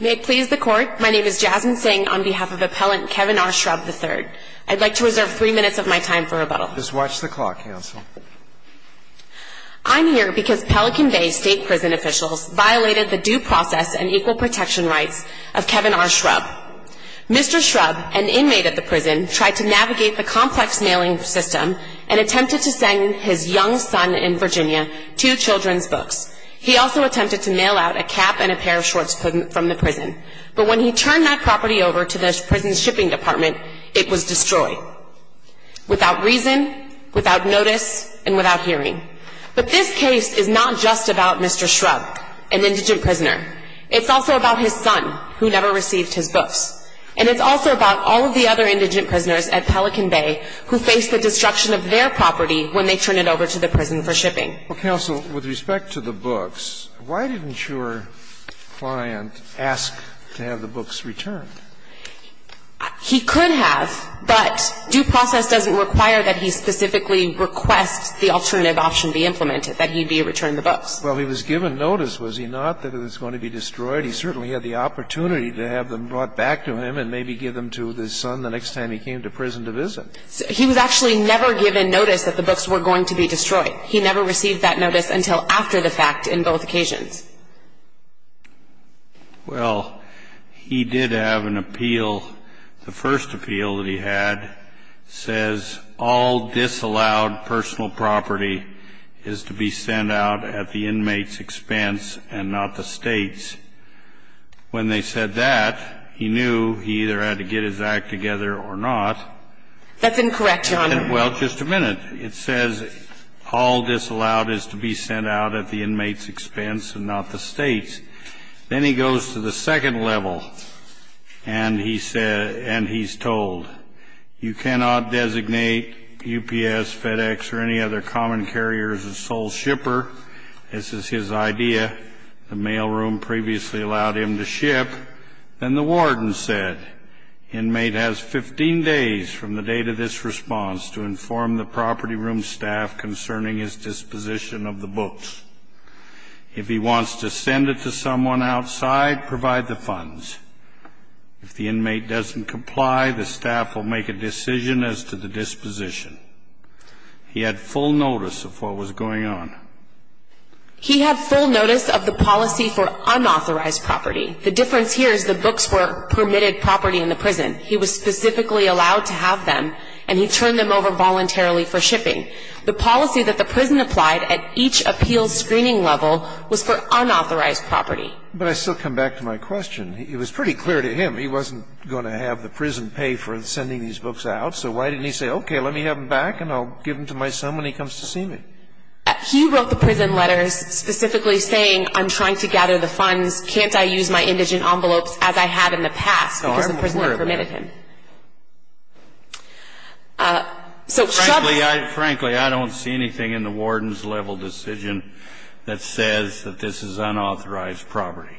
May it please the Court, my name is Jasmine Singh on behalf of Appellant Kevin R. Schrubb III. I'd like to reserve three minutes of my time for rebuttal. Just watch the clock, Counsel. I'm here because Pelican Bay State Prison officials violated the due process and equal protection rights of Kevin R. Schrubb. Mr. Schrubb, an inmate at the prison, tried to navigate the complex mailing system and attempted to send his young son in Virginia two children's books. He also attempted to mail out a cap and a pair of shorts from the prison. But when he turned that property over to the prison's shipping department, it was destroyed. Without reason, without notice, and without hearing. But this case is not just about Mr. Schrubb, an indigent prisoner. It's also about his son, who never received his books. And it's also about all of the other indigent prisoners at Pelican Bay who faced the destruction of their property when they turned it over to the prison for shipping. Well, Counsel, with respect to the books, why didn't your client ask to have the books returned? He could have, but due process doesn't require that he specifically request the alternative option be implemented, that he be returned the books. Well, he was given notice, was he not, that it was going to be destroyed? He certainly had the opportunity to have them brought back to him and maybe give them to his son the next time he came to prison to visit. He was actually never given notice that the books were going to be destroyed. He never received that notice until after the fact in both occasions. Well, he did have an appeal. The first appeal that he had says all disallowed personal property is to be sent out at the inmate's expense and not the State's. When they said that, he knew he either had to get his act together or not. That's incorrect, Your Honor. Well, just a minute. It says all disallowed is to be sent out at the inmate's expense and not the State's. Then he goes to the second level, and he's told you cannot designate UPS, FedEx, or any other common carrier as a sole shipper. This is his idea. The mailroom previously allowed him to ship. Then the warden said, inmate has 15 days from the date of this response to inform the property room staff concerning his disposition of the books. If he wants to send it to someone outside, provide the funds. If the inmate doesn't comply, the staff will make a decision as to the disposition. He had full notice of what was going on. He had full notice of the policy for unauthorized property. The difference here is the books were permitted property in the prison. He was specifically allowed to have them, and he turned them over voluntarily for shipping. The policy that the prison applied at each appeals screening level was for unauthorized property. But I still come back to my question. It was pretty clear to him he wasn't going to have the prison pay for sending these books out. So why didn't he say, okay, let me have them back, and I'll give them to my son when he comes to see me? He wrote the prison letters specifically saying, I'm trying to gather the funds. Can't I use my indigent envelopes as I had in the past? Because the prisoner permitted him. Kennedy, frankly, I don't see anything in the warden's level decision that says that this is unauthorized property.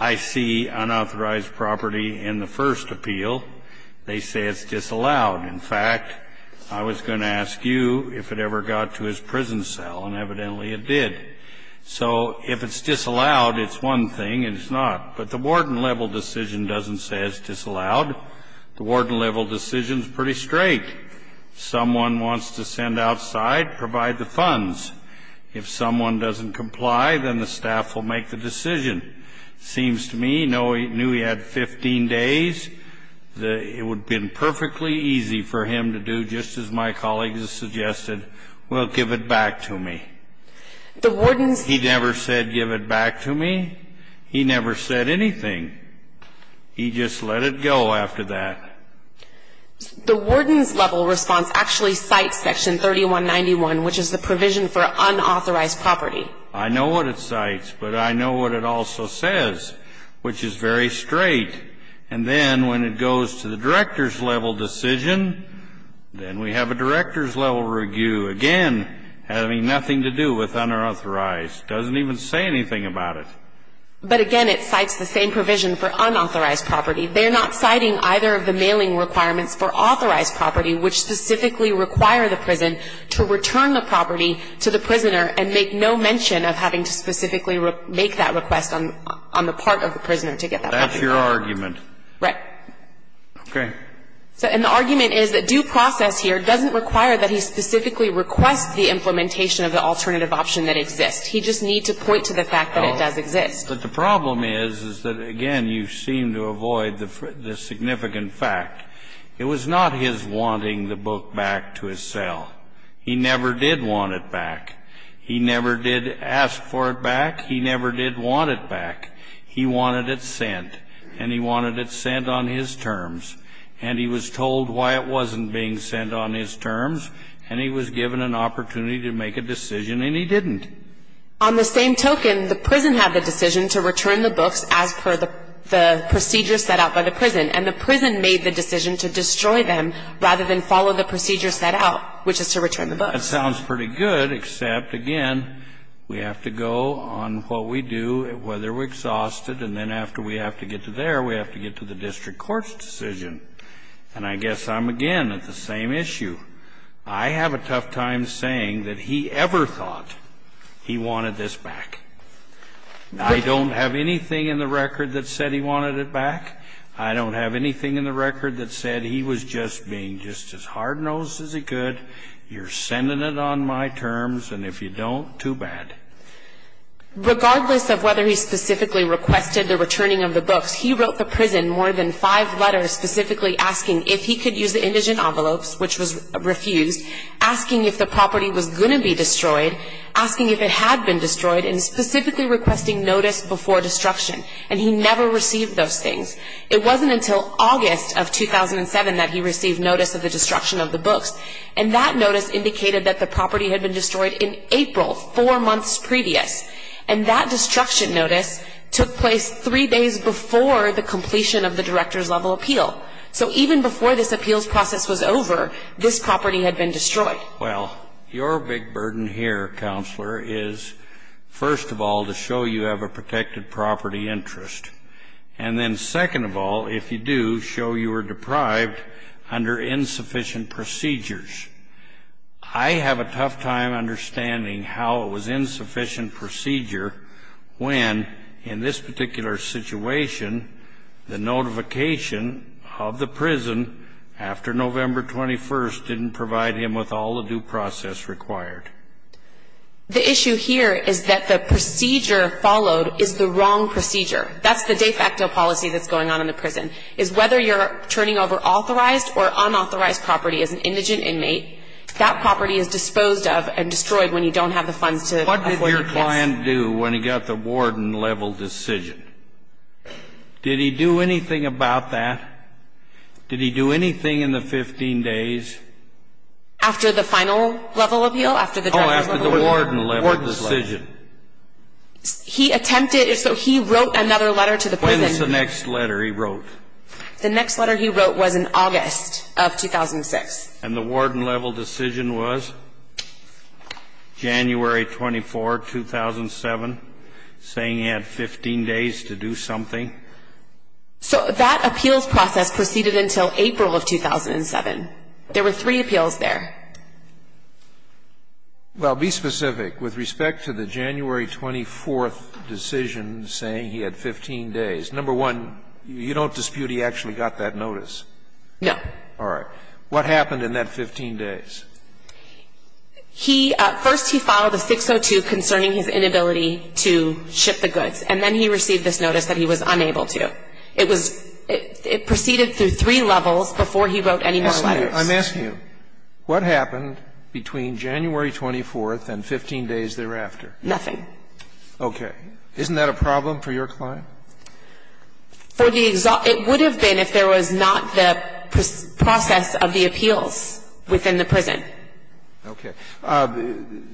I see unauthorized property in the first appeal. They say it's disallowed. In fact, I was going to ask you if it ever got to his prison cell, and evidently it did. So if it's disallowed, it's one thing and it's not. But the warden level decision doesn't say it's disallowed. The warden level decision is pretty straight. Someone wants to send outside, provide the funds. If someone doesn't comply, then the staff will make the decision. It seems to me, knowing he had 15 days, that it would have been perfectly easy for him to do, just as my colleagues have suggested, well, give it back to me. The warden's He never said give it back to me. He never said anything. He just let it go after that. The warden's level response actually cites Section 3191, which is the provision for unauthorized property. I know what it cites, but I know what it also says, which is very straight. And then when it goes to the director's level decision, then we have a director's level review, again, having nothing to do with unauthorized. It doesn't even say anything about it. But, again, it cites the same provision for unauthorized property. They're not citing either of the mailing requirements for authorized property, which specifically require the prison to return the property to the prisoner and make no mention of having to specifically make that request on the part of the prisoner to get that property. That's your argument. Right. Okay. And the argument is that due process here doesn't require that he specifically request the implementation of the alternative option that exists. He just needs to point to the fact that it does exist. But the problem is, is that, again, you seem to avoid the significant fact. It was not his wanting the book back to his cell. He never did want it back. He never did ask for it back. He never did want it back. He wanted it sent, and he wanted it sent on his terms. And he was told why it wasn't being sent on his terms, and he was given an opportunity to make a decision, and he didn't. On the same token, the prison had the decision to return the books as per the procedure set out by the prison, and the prison made the decision to destroy them rather than follow the procedure set out, which is to return the books. That sounds pretty good, except, again, we have to go on what we do, whether we're exhausted, and then after we have to get to there, we have to get to the district court's decision. And I guess I'm, again, at the same issue. I have a tough time saying that he ever thought he wanted this back. I don't have anything in the record that said he wanted it back. I don't have anything in the record that said he was just being just as hard-nosed as he could, you're sending it on my terms, and if you don't, too bad. Regardless of whether he specifically requested the returning of the books, he wrote the prison more than five letters specifically asking if he could use the indigent envelopes, which was refused, asking if the property was going to be destroyed, asking if it had been destroyed, and specifically requesting notice before destruction. And he never received those things. It wasn't until August of 2007 that he received notice of the destruction of the books, and that notice indicated that the property had been destroyed in April, four months previous. And that destruction notice took place three days before the completion of the director's level appeal. So even before this appeals process was over, this property had been destroyed. Well, your big burden here, Counselor, is, first of all, to show you have a protected property interest, and then second of all, if you do, show you were deprived under insufficient procedures. I have a tough time understanding how it was insufficient procedure when, in this particular situation, the notification of the prison after November 21st didn't provide him with all the due process required. The issue here is that the procedure followed is the wrong procedure. That's the de facto policy that's going on in the prison, is whether you're turning over authorized or unauthorized property as an indigent inmate. That property is disposed of and destroyed when you don't have the funds to avoid the case. What did your client do when he got the warden-level decision? Did he do anything about that? Did he do anything in the 15 days? After the final level appeal, after the director's level appeal? Oh, after the warden-level decision. The warden's decision. When's the next letter he wrote? The next letter he wrote was in August of 2006. And the warden-level decision was January 24, 2007, saying he had 15 days to do something? So that appeals process proceeded until April of 2007. There were three appeals there. Well, be specific. With respect to the January 24th decision saying he had 15 days, number one, you don't dispute he actually got that notice? No. All right. What happened in that 15 days? He – first he filed a 602 concerning his inability to ship the goods, and then he received this notice that he was unable to. It was – it proceeded through three levels before he wrote any more letters. I'm asking you, what happened between January 24th and 15 days thereafter? Nothing. Okay. Isn't that a problem for your client? For the – it would have been if there was not the process of the appeals within the prison. Okay.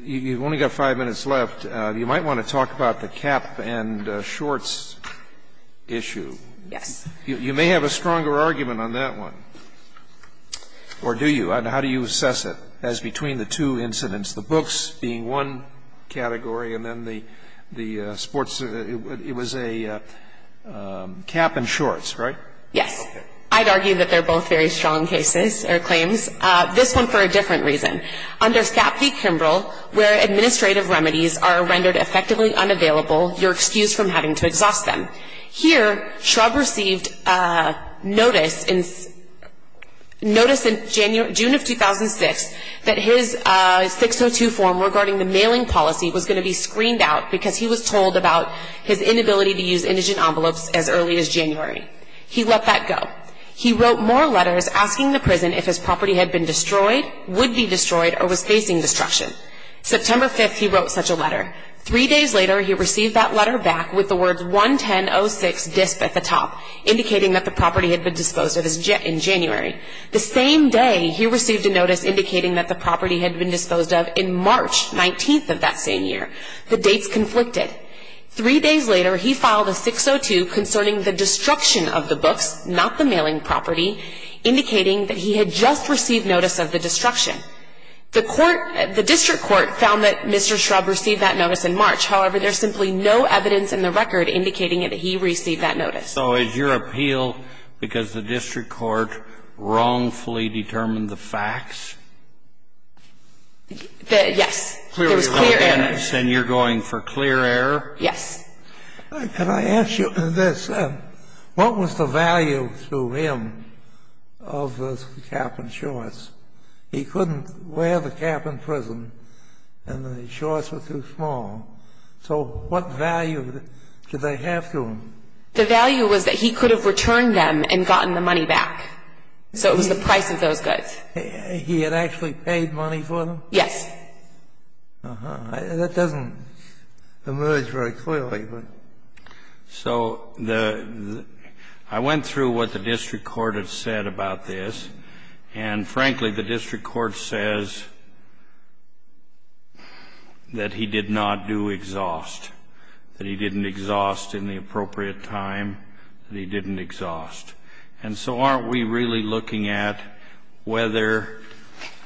You've only got five minutes left. You might want to talk about the cap and shorts issue. Yes. You may have a stronger argument on that one. Or do you? And how do you assess it as between the two incidents, the books being one category and then the sports – it was a cap and shorts, right? Yes. I'd argue that they're both very strong cases or claims. This one for a different reason. Under Scapp v. Kimbrell, where administrative remedies are rendered effectively unavailable, you're excused from having to exhaust them. Here, Shrubb received notice in – notice in June of 2006 that his 602 form regarding the mailing policy was going to be screened out because he was told about his inability to use indigent envelopes as early as January. He let that go. He wrote more letters asking the prison if his property had been destroyed, would be destroyed, or was facing destruction. September 5th, he wrote such a letter. Three days later, he received that letter back with the words 110-06-DISP at the top, indicating that the property had been disposed of in January. The same day, he received a notice indicating that the property had been disposed of in March 19th of that same year. The dates conflicted. Three days later, he filed a 602 concerning the destruction of the books, not the mailing property, indicating that he had just received notice of the destruction. The court – the district court found that Mr. Shrubb received that notice in March. However, there's simply no evidence in the record indicating that he received that notice. So is your appeal because the district court wrongfully determined the facts? Yes. There was clear error. And you're going for clear error? Yes. Can I ask you this? What was the value to him of the cap and shorts? He couldn't wear the cap in prison, and the shorts were too small. So what value did they have to him? The value was that he could have returned them and gotten the money back. So it was the price of those goods. He had actually paid money for them? Yes. Uh-huh. That doesn't emerge very clearly. So the – I went through what the district court had said about this. And, frankly, the district court says that he did not do exhaust, that he didn't exhaust in the appropriate time, that he didn't exhaust. And so aren't we really looking at whether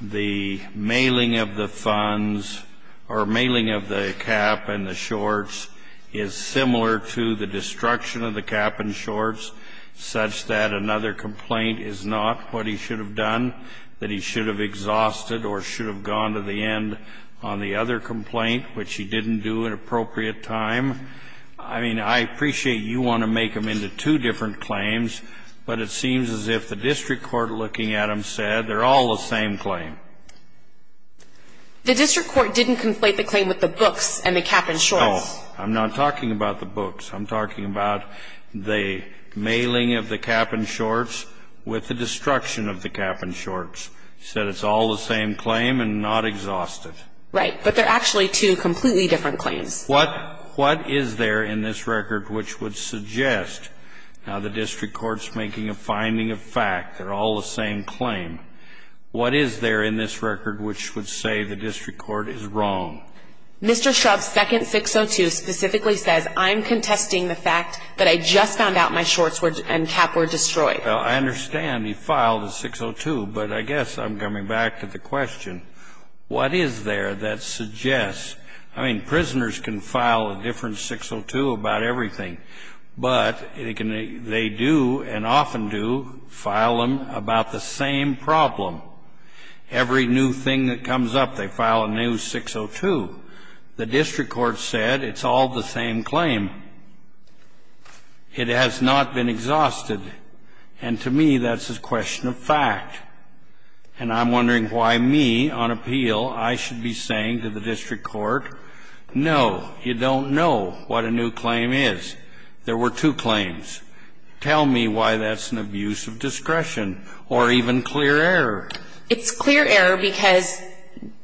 the mailing of the funds or mailing of the cap and the shorts is similar to the destruction of the cap and shorts, such that another complaint is not what he should have done, that he should have exhausted or should have gone to the end on the other complaint, which he didn't do at appropriate time? I mean, I appreciate you want to make them into two different claims, but it seems as if the district court looking at them said they're all the same claim. The district court didn't conflate the claim with the books and the cap and shorts. No. I'm not talking about the books. I'm talking about the mailing of the cap and shorts with the destruction of the cap and shorts. It said it's all the same claim and not exhausted. Right. But they're actually two completely different claims. What is there in this record which would suggest, now the district court's making a finding of fact they're all the same claim, what is there in this record which would say the district court is wrong? Mr. Shrub's second 602 specifically says, I'm contesting the fact that I just found out my shorts and cap were destroyed. I understand he filed a 602, but I guess I'm coming back to the question. What is there that suggests, I mean, prisoners can file a different 602 about everything, but they do and often do file them about the same problem. Every new thing that comes up, they file a new 602. The district court said it's all the same claim. It has not been exhausted. And to me, that's a question of fact. And I'm wondering why me, on appeal, I should be saying to the district court, no, you don't know what a new claim is. There were two claims. Tell me why that's an abuse of discretion or even clear error. It's clear error because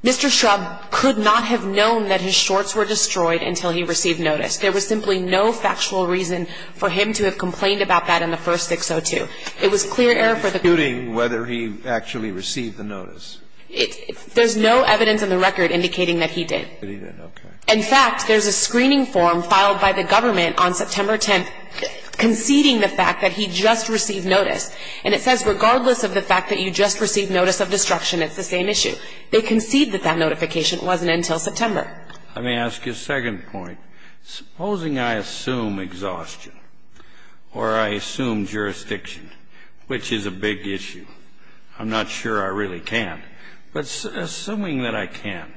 Mr. Shrub could not have known that his shorts were destroyed until he received notice. There was simply no factual reason for him to have complained about that in the first instance. It was clear error for the court. It's disputing whether he actually received the notice. There's no evidence in the record indicating that he did. Okay. In fact, there's a screening form filed by the government on September 10th conceding the fact that he just received notice. And it says regardless of the fact that you just received notice of destruction, it's the same issue. They concede that that notification wasn't until September. Let me ask you a second point. Supposing I assume exhaustion or I assume jurisdiction, which is a big issue. I'm not sure I really can. But assuming that I can,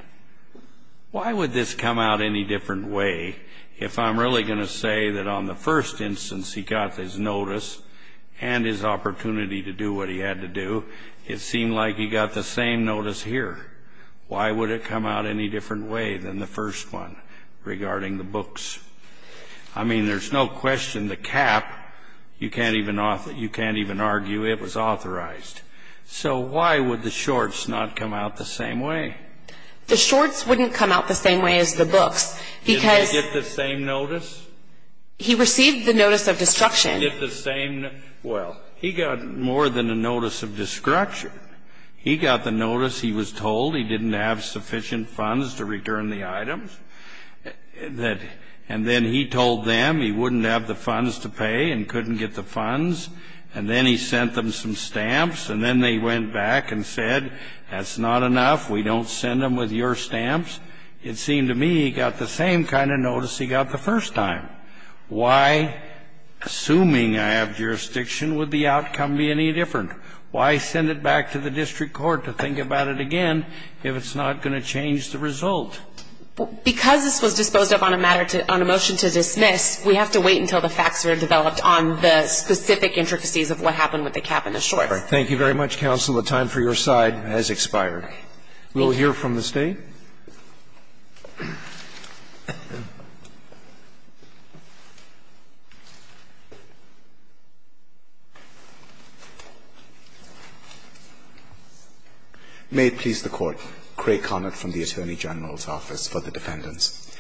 why would this come out any different way if I'm really going to say that on the first instance he got his notice and his opportunity to do what he had to do, it seemed like he got the same notice here. Why would it come out any different way than the first one regarding the books? I mean, there's no question the cap, you can't even argue it was authorized. So why would the shorts not come out the same way? The shorts wouldn't come out the same way as the books. Did they get the same notice? He received the notice of destruction. Well, he got more than a notice of destruction. He got the notice he was told he didn't have sufficient funds to return the items. And then he told them he wouldn't have the funds to pay and couldn't get the funds. And then he sent them some stamps. And then they went back and said, that's not enough, we don't send them with your stamps. It seemed to me he got the same kind of notice he got the first time. Why, assuming I have jurisdiction, would the outcome be any different? Why send it back to the district court to think about it again if it's not going to change the result? Because this was disposed of on a motion to dismiss, we have to wait until the facts are developed on the specific intricacies of what happened with the cap and the shorts. Thank you very much, counsel. The time for your side has expired. We will hear from the State. May it please the Court. Craig Connard from the Attorney General's Office for the Defendants.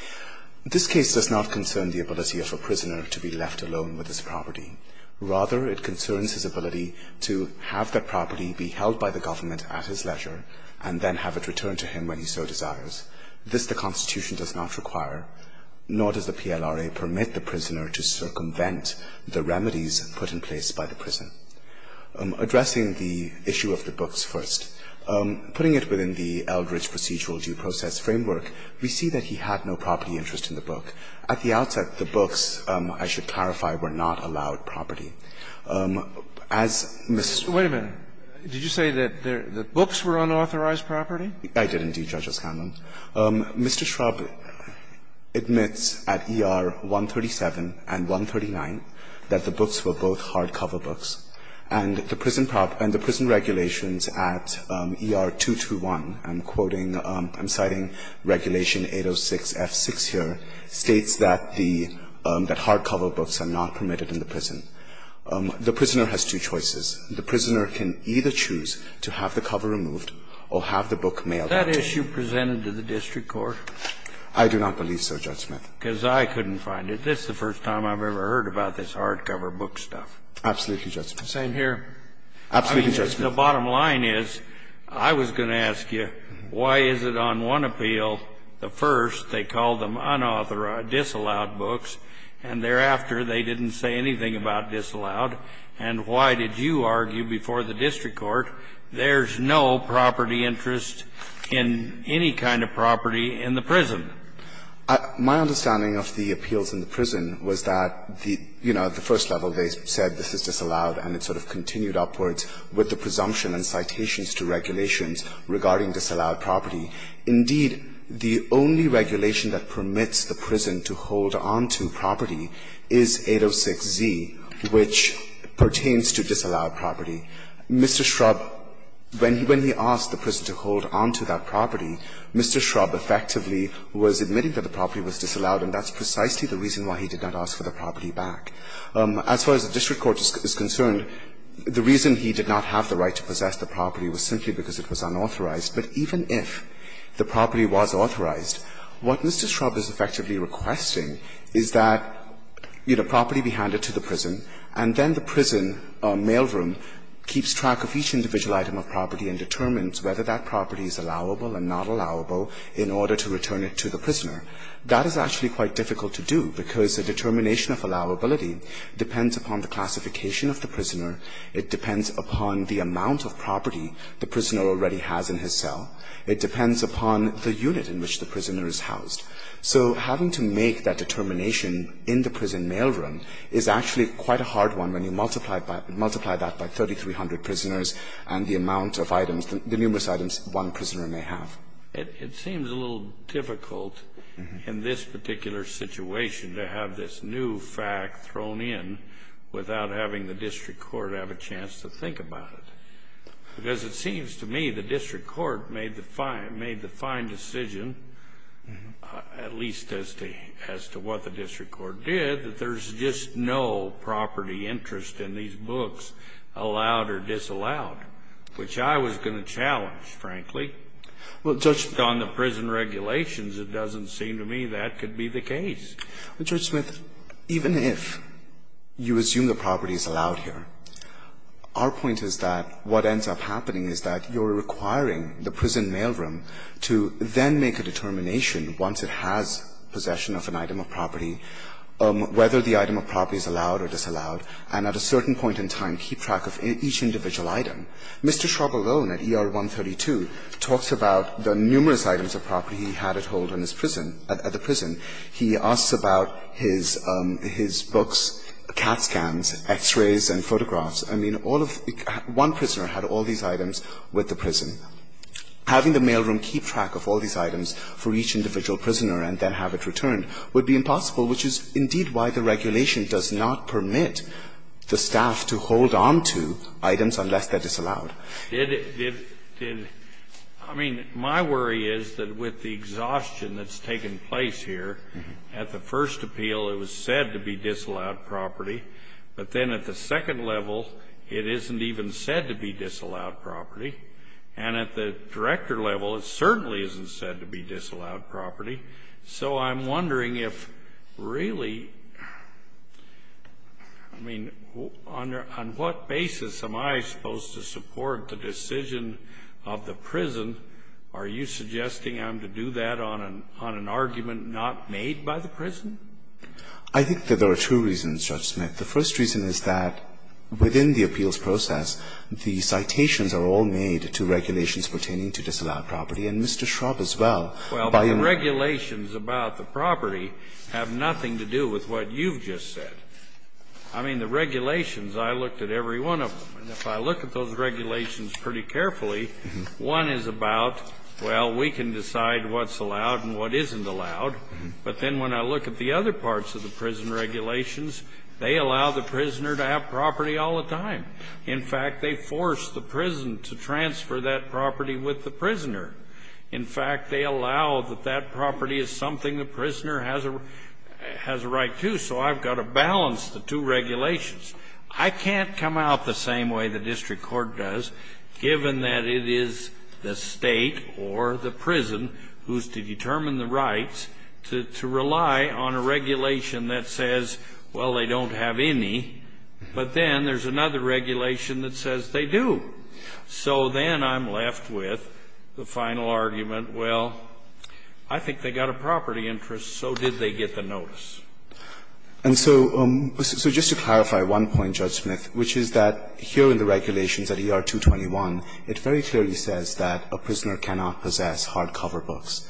This case does not concern the ability of a prisoner to be left alone with his property. Rather, it concerns his ability to have that property be held by the government at his leisure and then have it returned to him when he so desires. This the Constitution does not require, nor does the PLRA permit the prisoner to circumvent the remedies put in place by the prison. Addressing the issue of the books first, putting it within the Eldridge procedural due process framework, we see that he had no property interest in the book. At the outset, the books, I should clarify, were not allowed property. As Mr. Schraub admits at ER 137 and 139 that the books were both hardcover books, and the prison regulations at ER 221, I'm quoting, I'm citing Regulation 806F6 here, states that the hardcover books are not permitted in the prison. The prisoner has two choices. The prisoner can either choose to have the cover removed or have the book mailed out to him. Scalia. Is that issue presented to the district court? Domenico. I do not believe so, Judge Smith. Scalia. Because I couldn't find it. This is the first time I've ever heard about this hardcover book stuff. Domenico. Absolutely, Judge Smith. Scalia. Same here. Domenico. Absolutely, Judge Smith. Scalia. I mean, the bottom line is, I was going to ask you, why is it on one appeal, the first, they called them unauthorized, disallowed books, and thereafter they didn't say anything about disallowed? And why did you argue before the district court there's no property interest in any kind of property in the prison? My understanding of the appeals in the prison was that the, you know, the first level they said this is disallowed, and it sort of continued upwards with the presumption and citations to regulations regarding disallowed property. Indeed, the only regulation that permits the prison to hold on to property is 806z, which pertains to disallowed property. Mr. Shrub, when he asked the prison to hold on to that property, Mr. Shrub effectively was admitting that the property was disallowed, and that's precisely the reason why he did not ask for the property back. As far as the district court is concerned, the reason he did not have the right to possess the property was simply because it was unauthorized. But even if the property was authorized, what Mr. Shrub is effectively requesting is that, you know, property be handed to the prison, and then the prison mailroom keeps track of each individual item of property and determines whether that property is allowable and not allowable in order to return it to the prisoner. That is actually quite difficult to do, because the determination of allowability depends upon the classification of the prisoner, it depends upon the amount of property the prisoner already has in his cell, it depends upon the unit in which the prisoner is housed. So having to make that determination in the prison mailroom is actually quite a hard one when you multiply that by 3,300 prisoners and the amount of items, the numerous items one prisoner may have. It seems a little difficult in this particular situation to have this new fact thrown in without having the district court have a chance to think about it. Because it seems to me the district court made the fine decision, at least as to what the district court did, that there's just no property interest in these books allowed or disallowed, which I was going to challenge, frankly. Well, Judge, on the prison regulations, it doesn't seem to me that could be the case. Gannon, even if you assume the property is allowed here, our point is that what ends up happening is that you're requiring the prison mailroom to then make a determination once it has possession of an item of property whether the item of property is allowed or disallowed, and at a certain point in time keep track of each individual item. Mr. Shrovel-Lone at ER 132 talks about the numerous items of property he had at hold in his prison, at the prison. He asks about his books, CAT scans, X-rays and photographs. I mean, all of the one prisoner had all these items with the prison. Having the mailroom keep track of all these items for each individual prisoner and then have it returned would be impossible, which is indeed why the regulation does not permit the staff to hold on to items unless they're disallowed. Did it, did, I mean, my worry is that with the exhaustion that's taken place here, at the first appeal it was said to be disallowed property, but then at the second level it isn't even said to be disallowed property, and at the director level it certainly isn't said to be disallowed property. So I'm wondering if really, I mean, on what basis am I supposed to support the decision of the prison? Are you suggesting I'm to do that on an argument not made by the prison? I think that there are two reasons, Judge Smith. The first reason is that within the appeals process, the citations are all made to regulations pertaining to disallowed property, and Mr. Shrovel as well. Well, the regulations about the property have nothing to do with what you've just said. I mean, the regulations, I looked at every one of them, and if I look at those regulations pretty carefully, one is about, well, we can decide what's allowed and what isn't allowed, but then when I look at the other parts of the prison regulations, they allow the prisoner to have property all the time. In fact, they force the prison to transfer that property with the prisoner. In fact, they allow that that property is something the prisoner has a right to, so I've got to balance the two regulations. I can't come out the same way the district court does, given that it is the State or the prison who's to determine the rights to rely on a regulation that says, well, they don't have any, but then there's another regulation that says they do. So then I'm left with the final argument, well, I think they've got a property interest, so did they get the notice. And so just to clarify one point, Judge Smith, which is that here in the regulations at ER-221, it very clearly says that a prisoner cannot possess hardcover books.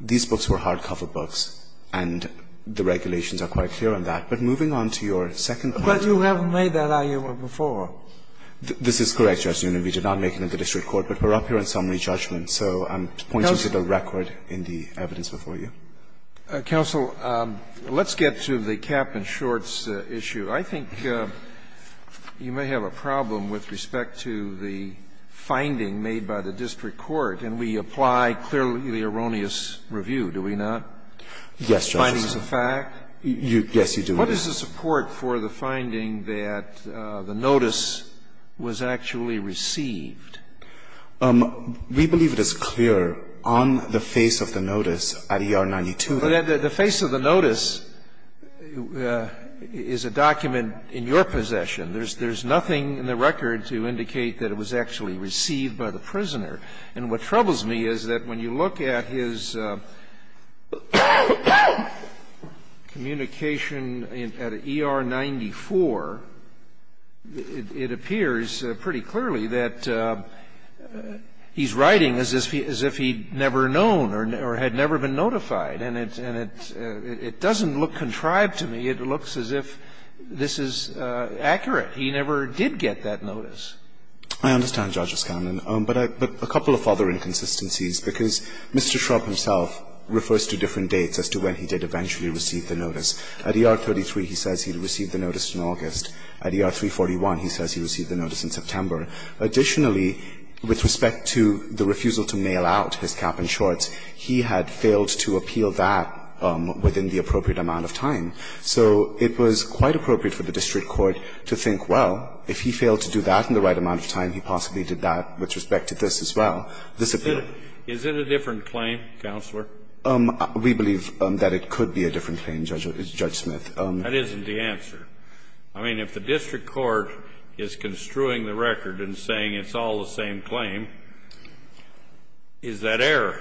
These books were hardcover books, and the regulations are quite clear on that. But moving on to your second point. But you haven't made that argument before. This is correct, Judge Neumann. We did not make it in the district court, but we're up here on summary judgment. So I'm pointing to the record in the evidence before you. Scalia. Counsel, let's get to the cap-and-shorts issue. I think you may have a problem with respect to the finding made by the district court, and we apply clearly the erroneous review, do we not? Yes, Justice. The finding is a fact? Yes, you do. What is the support for the finding that the notice was actually received? We believe it is clear on the face of the notice at ER-92. But the face of the notice is a document in your possession. There's nothing in the record to indicate that it was actually received by the prisoner. And what troubles me is that when you look at his communication at ER-94, it appears pretty clearly that he's writing as if he'd never known or had never been notified. And it doesn't look contrived to me. It looks as if this is accurate. He never did get that notice. I understand, Judge Oscannon. But a couple of other inconsistencies, because Mr. Shrubb himself refers to different dates as to when he did eventually receive the notice. At ER-33, he says he received the notice in August. At ER-341, he says he received the notice in September. Additionally, with respect to the refusal to mail out his cap-and-shorts, he had failed to appeal that within the appropriate amount of time. So it was quite appropriate for the district court to think, well, if he failed to do that in the right amount of time, he possibly did that with respect to this as well. This appeal. Is it a different claim, Counselor? We believe that it could be a different claim, Judge Smith. That isn't the answer. I mean, if the district court is construing the record and saying it's all the same claim, is that error?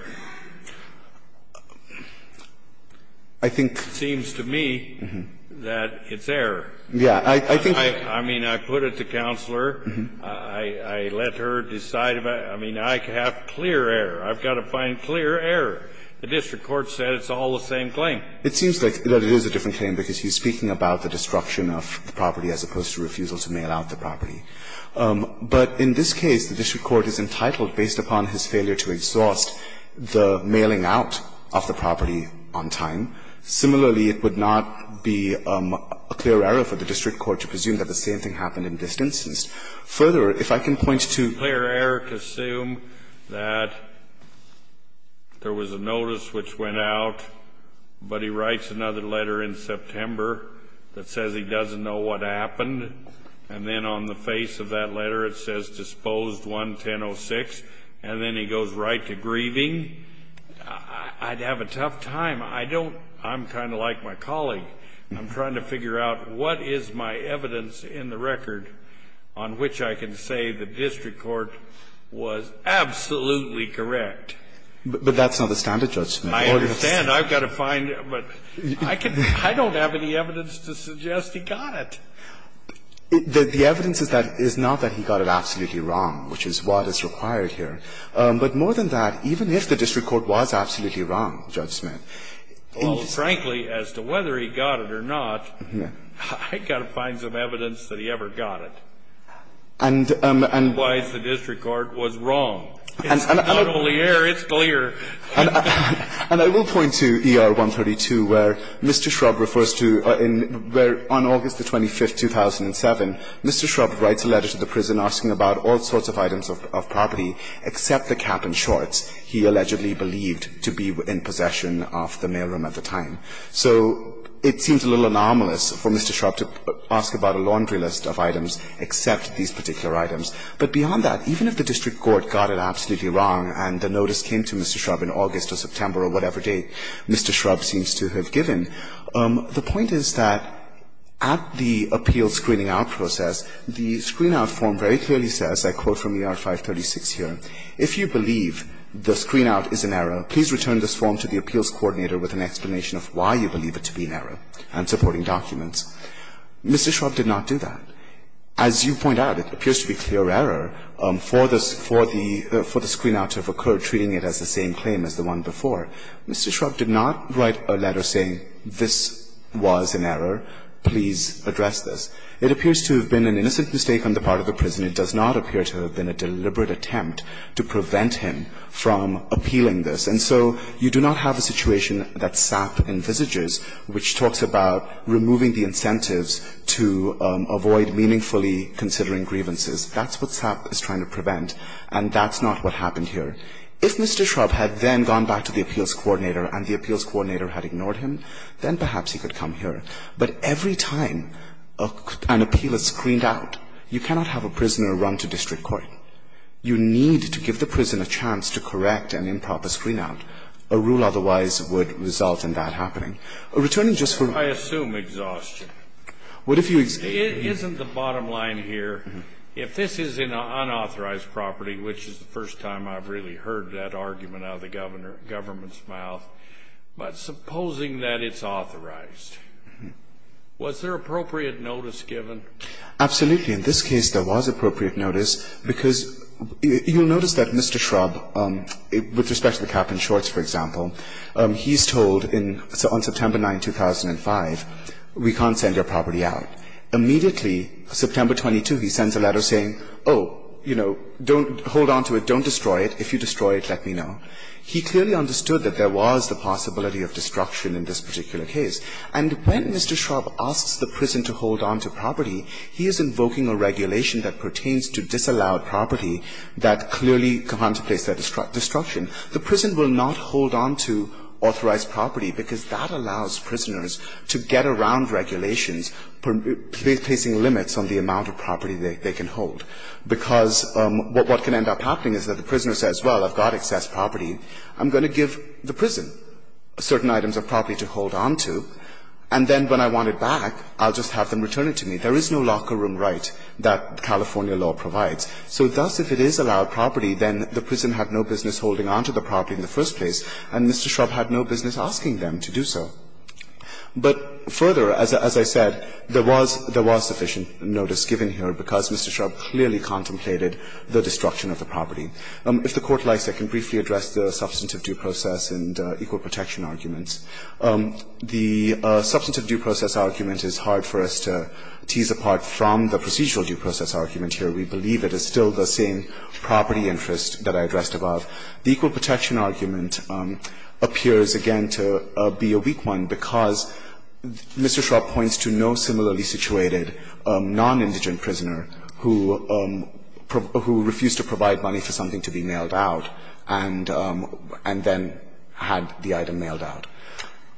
I think. It seems to me that it's error. Yes. I mean, I put it to Counselor. I let her decide. I mean, I have clear error. I've got to find clear error. The district court said it's all the same claim. It seems like it is a different claim because he's speaking about the destruction of the property as opposed to refusal to mail out the property. But in this case, the district court is entitled, based upon his failure to exhaust, the mailing out of the property on time. Similarly, it would not be a clear error for the district court to presume that the same thing happened in this instance. Further, if I can point to. If I can point to clear error, assume that there was a notice which went out, but he writes another letter in September that says he doesn't know what happened, and then on the face of that letter it says disposed 11006, and then he goes right to grieving. I'd have a tough time. I don't – I'm kind of like my colleague. I'm trying to figure out what is my evidence in the record on which I can say the district court was absolutely correct. But that's not the standard judgment. I understand. I've got to find – but I don't have any evidence to suggest he got it. The evidence is not that he got it absolutely wrong, which is what is required here. But more than that, even if the district court was absolutely wrong, Judge Smith. Well, frankly, as to whether he got it or not, I've got to find some evidence that he ever got it. And – and – Otherwise the district court was wrong. It's not only error, it's clear. And I will point to ER 132 where Mr. Shrub refers to – where on August the 25th, 2007, Mr. Shrub writes a letter to the prison asking about all sorts of items of property, except the cap and shorts he allegedly believed to be in possession of the mailroom at the time. So it seems a little anomalous for Mr. Shrub to ask about a laundry list of items except these particular items. But beyond that, even if the district court got it absolutely wrong and the notice came to Mr. Shrub in August or September or whatever date, Mr. Shrub seems to have given, the point is that at the appeal screening out process, the screen-out form very clearly says, I quote from ER 536 here, if you believe the screen-out is an error, please return this form to the appeals coordinator with an explanation of why you believe it to be an error. I'm supporting documents. Mr. Shrub did not do that. As you point out, it appears to be clear error for the – for the screen-out to have occurred, treating it as the same claim as the one before. Mr. Shrub did not write a letter saying this was an error, please address this. It appears to have been an innocent mistake on the part of the prisoner. It does not appear to have been a deliberate attempt to prevent him from appealing this. And so you do not have a situation that SAP envisages, which talks about removing the incentives to avoid meaningfully considering grievances. That's what SAP is trying to prevent, and that's not what happened here. If Mr. Shrub had then gone back to the appeals coordinator and the appeals coordinator had ignored him, then perhaps he could come here. But every time an appeal is screened out, you cannot have a prisoner run to district court. You need to give the prisoner a chance to correct an improper screen-out. A rule otherwise would result in that happening. Returning just to the rule. I assume exhaustion. What if you – Isn't the bottom line here, if this is an unauthorized property, which is the first time I've really heard that argument out of the government's mouth, but supposing that it's authorized. Was there appropriate notice given? Absolutely. In this case, there was appropriate notice, because you'll notice that Mr. Shrub, with respect to the cap and shorts, for example, he's told in – on September 9, 2005, we can't send your property out. Immediately, September 22, he sends a letter saying, oh, you know, don't – hold on to it, don't destroy it. If you destroy it, let me know. He clearly understood that there was the possibility of destruction in this particular case. And when Mr. Shrub asks the prison to hold on to property, he is invoking a regulation that pertains to disallowed property that clearly comes to place that destruction. The prison will not hold on to authorized property, because that allows prisoners to get around regulations, placing limits on the amount of property they can hold, because what can end up happening is that the prisoner says, well, I've got excess property. I'm going to give the prison certain items of property to hold on to. And then when I want it back, I'll just have them return it to me. There is no locker room right that California law provides. So thus, if it is allowed property, then the prison had no business holding on to the property in the first place, and Mr. Shrub had no business asking them to do so. But further, as I said, there was – there was sufficient notice given here, because Mr. Shrub clearly contemplated the destruction of the property. If the Court likes, I can briefly address the substantive due process and equal protection arguments. The substantive due process argument is hard for us to tease apart from the procedural due process argument here. We believe it is still the same property interest that I addressed above. The equal protection argument appears, again, to be a weak one, because Mr. Shrub points to no similarly situated nonindigent prisoner who refused to provide money for something to be mailed out and then had the item mailed out.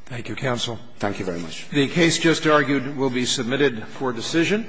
Thank you, counsel. Thank you very much. The case just argued will be submitted for decision.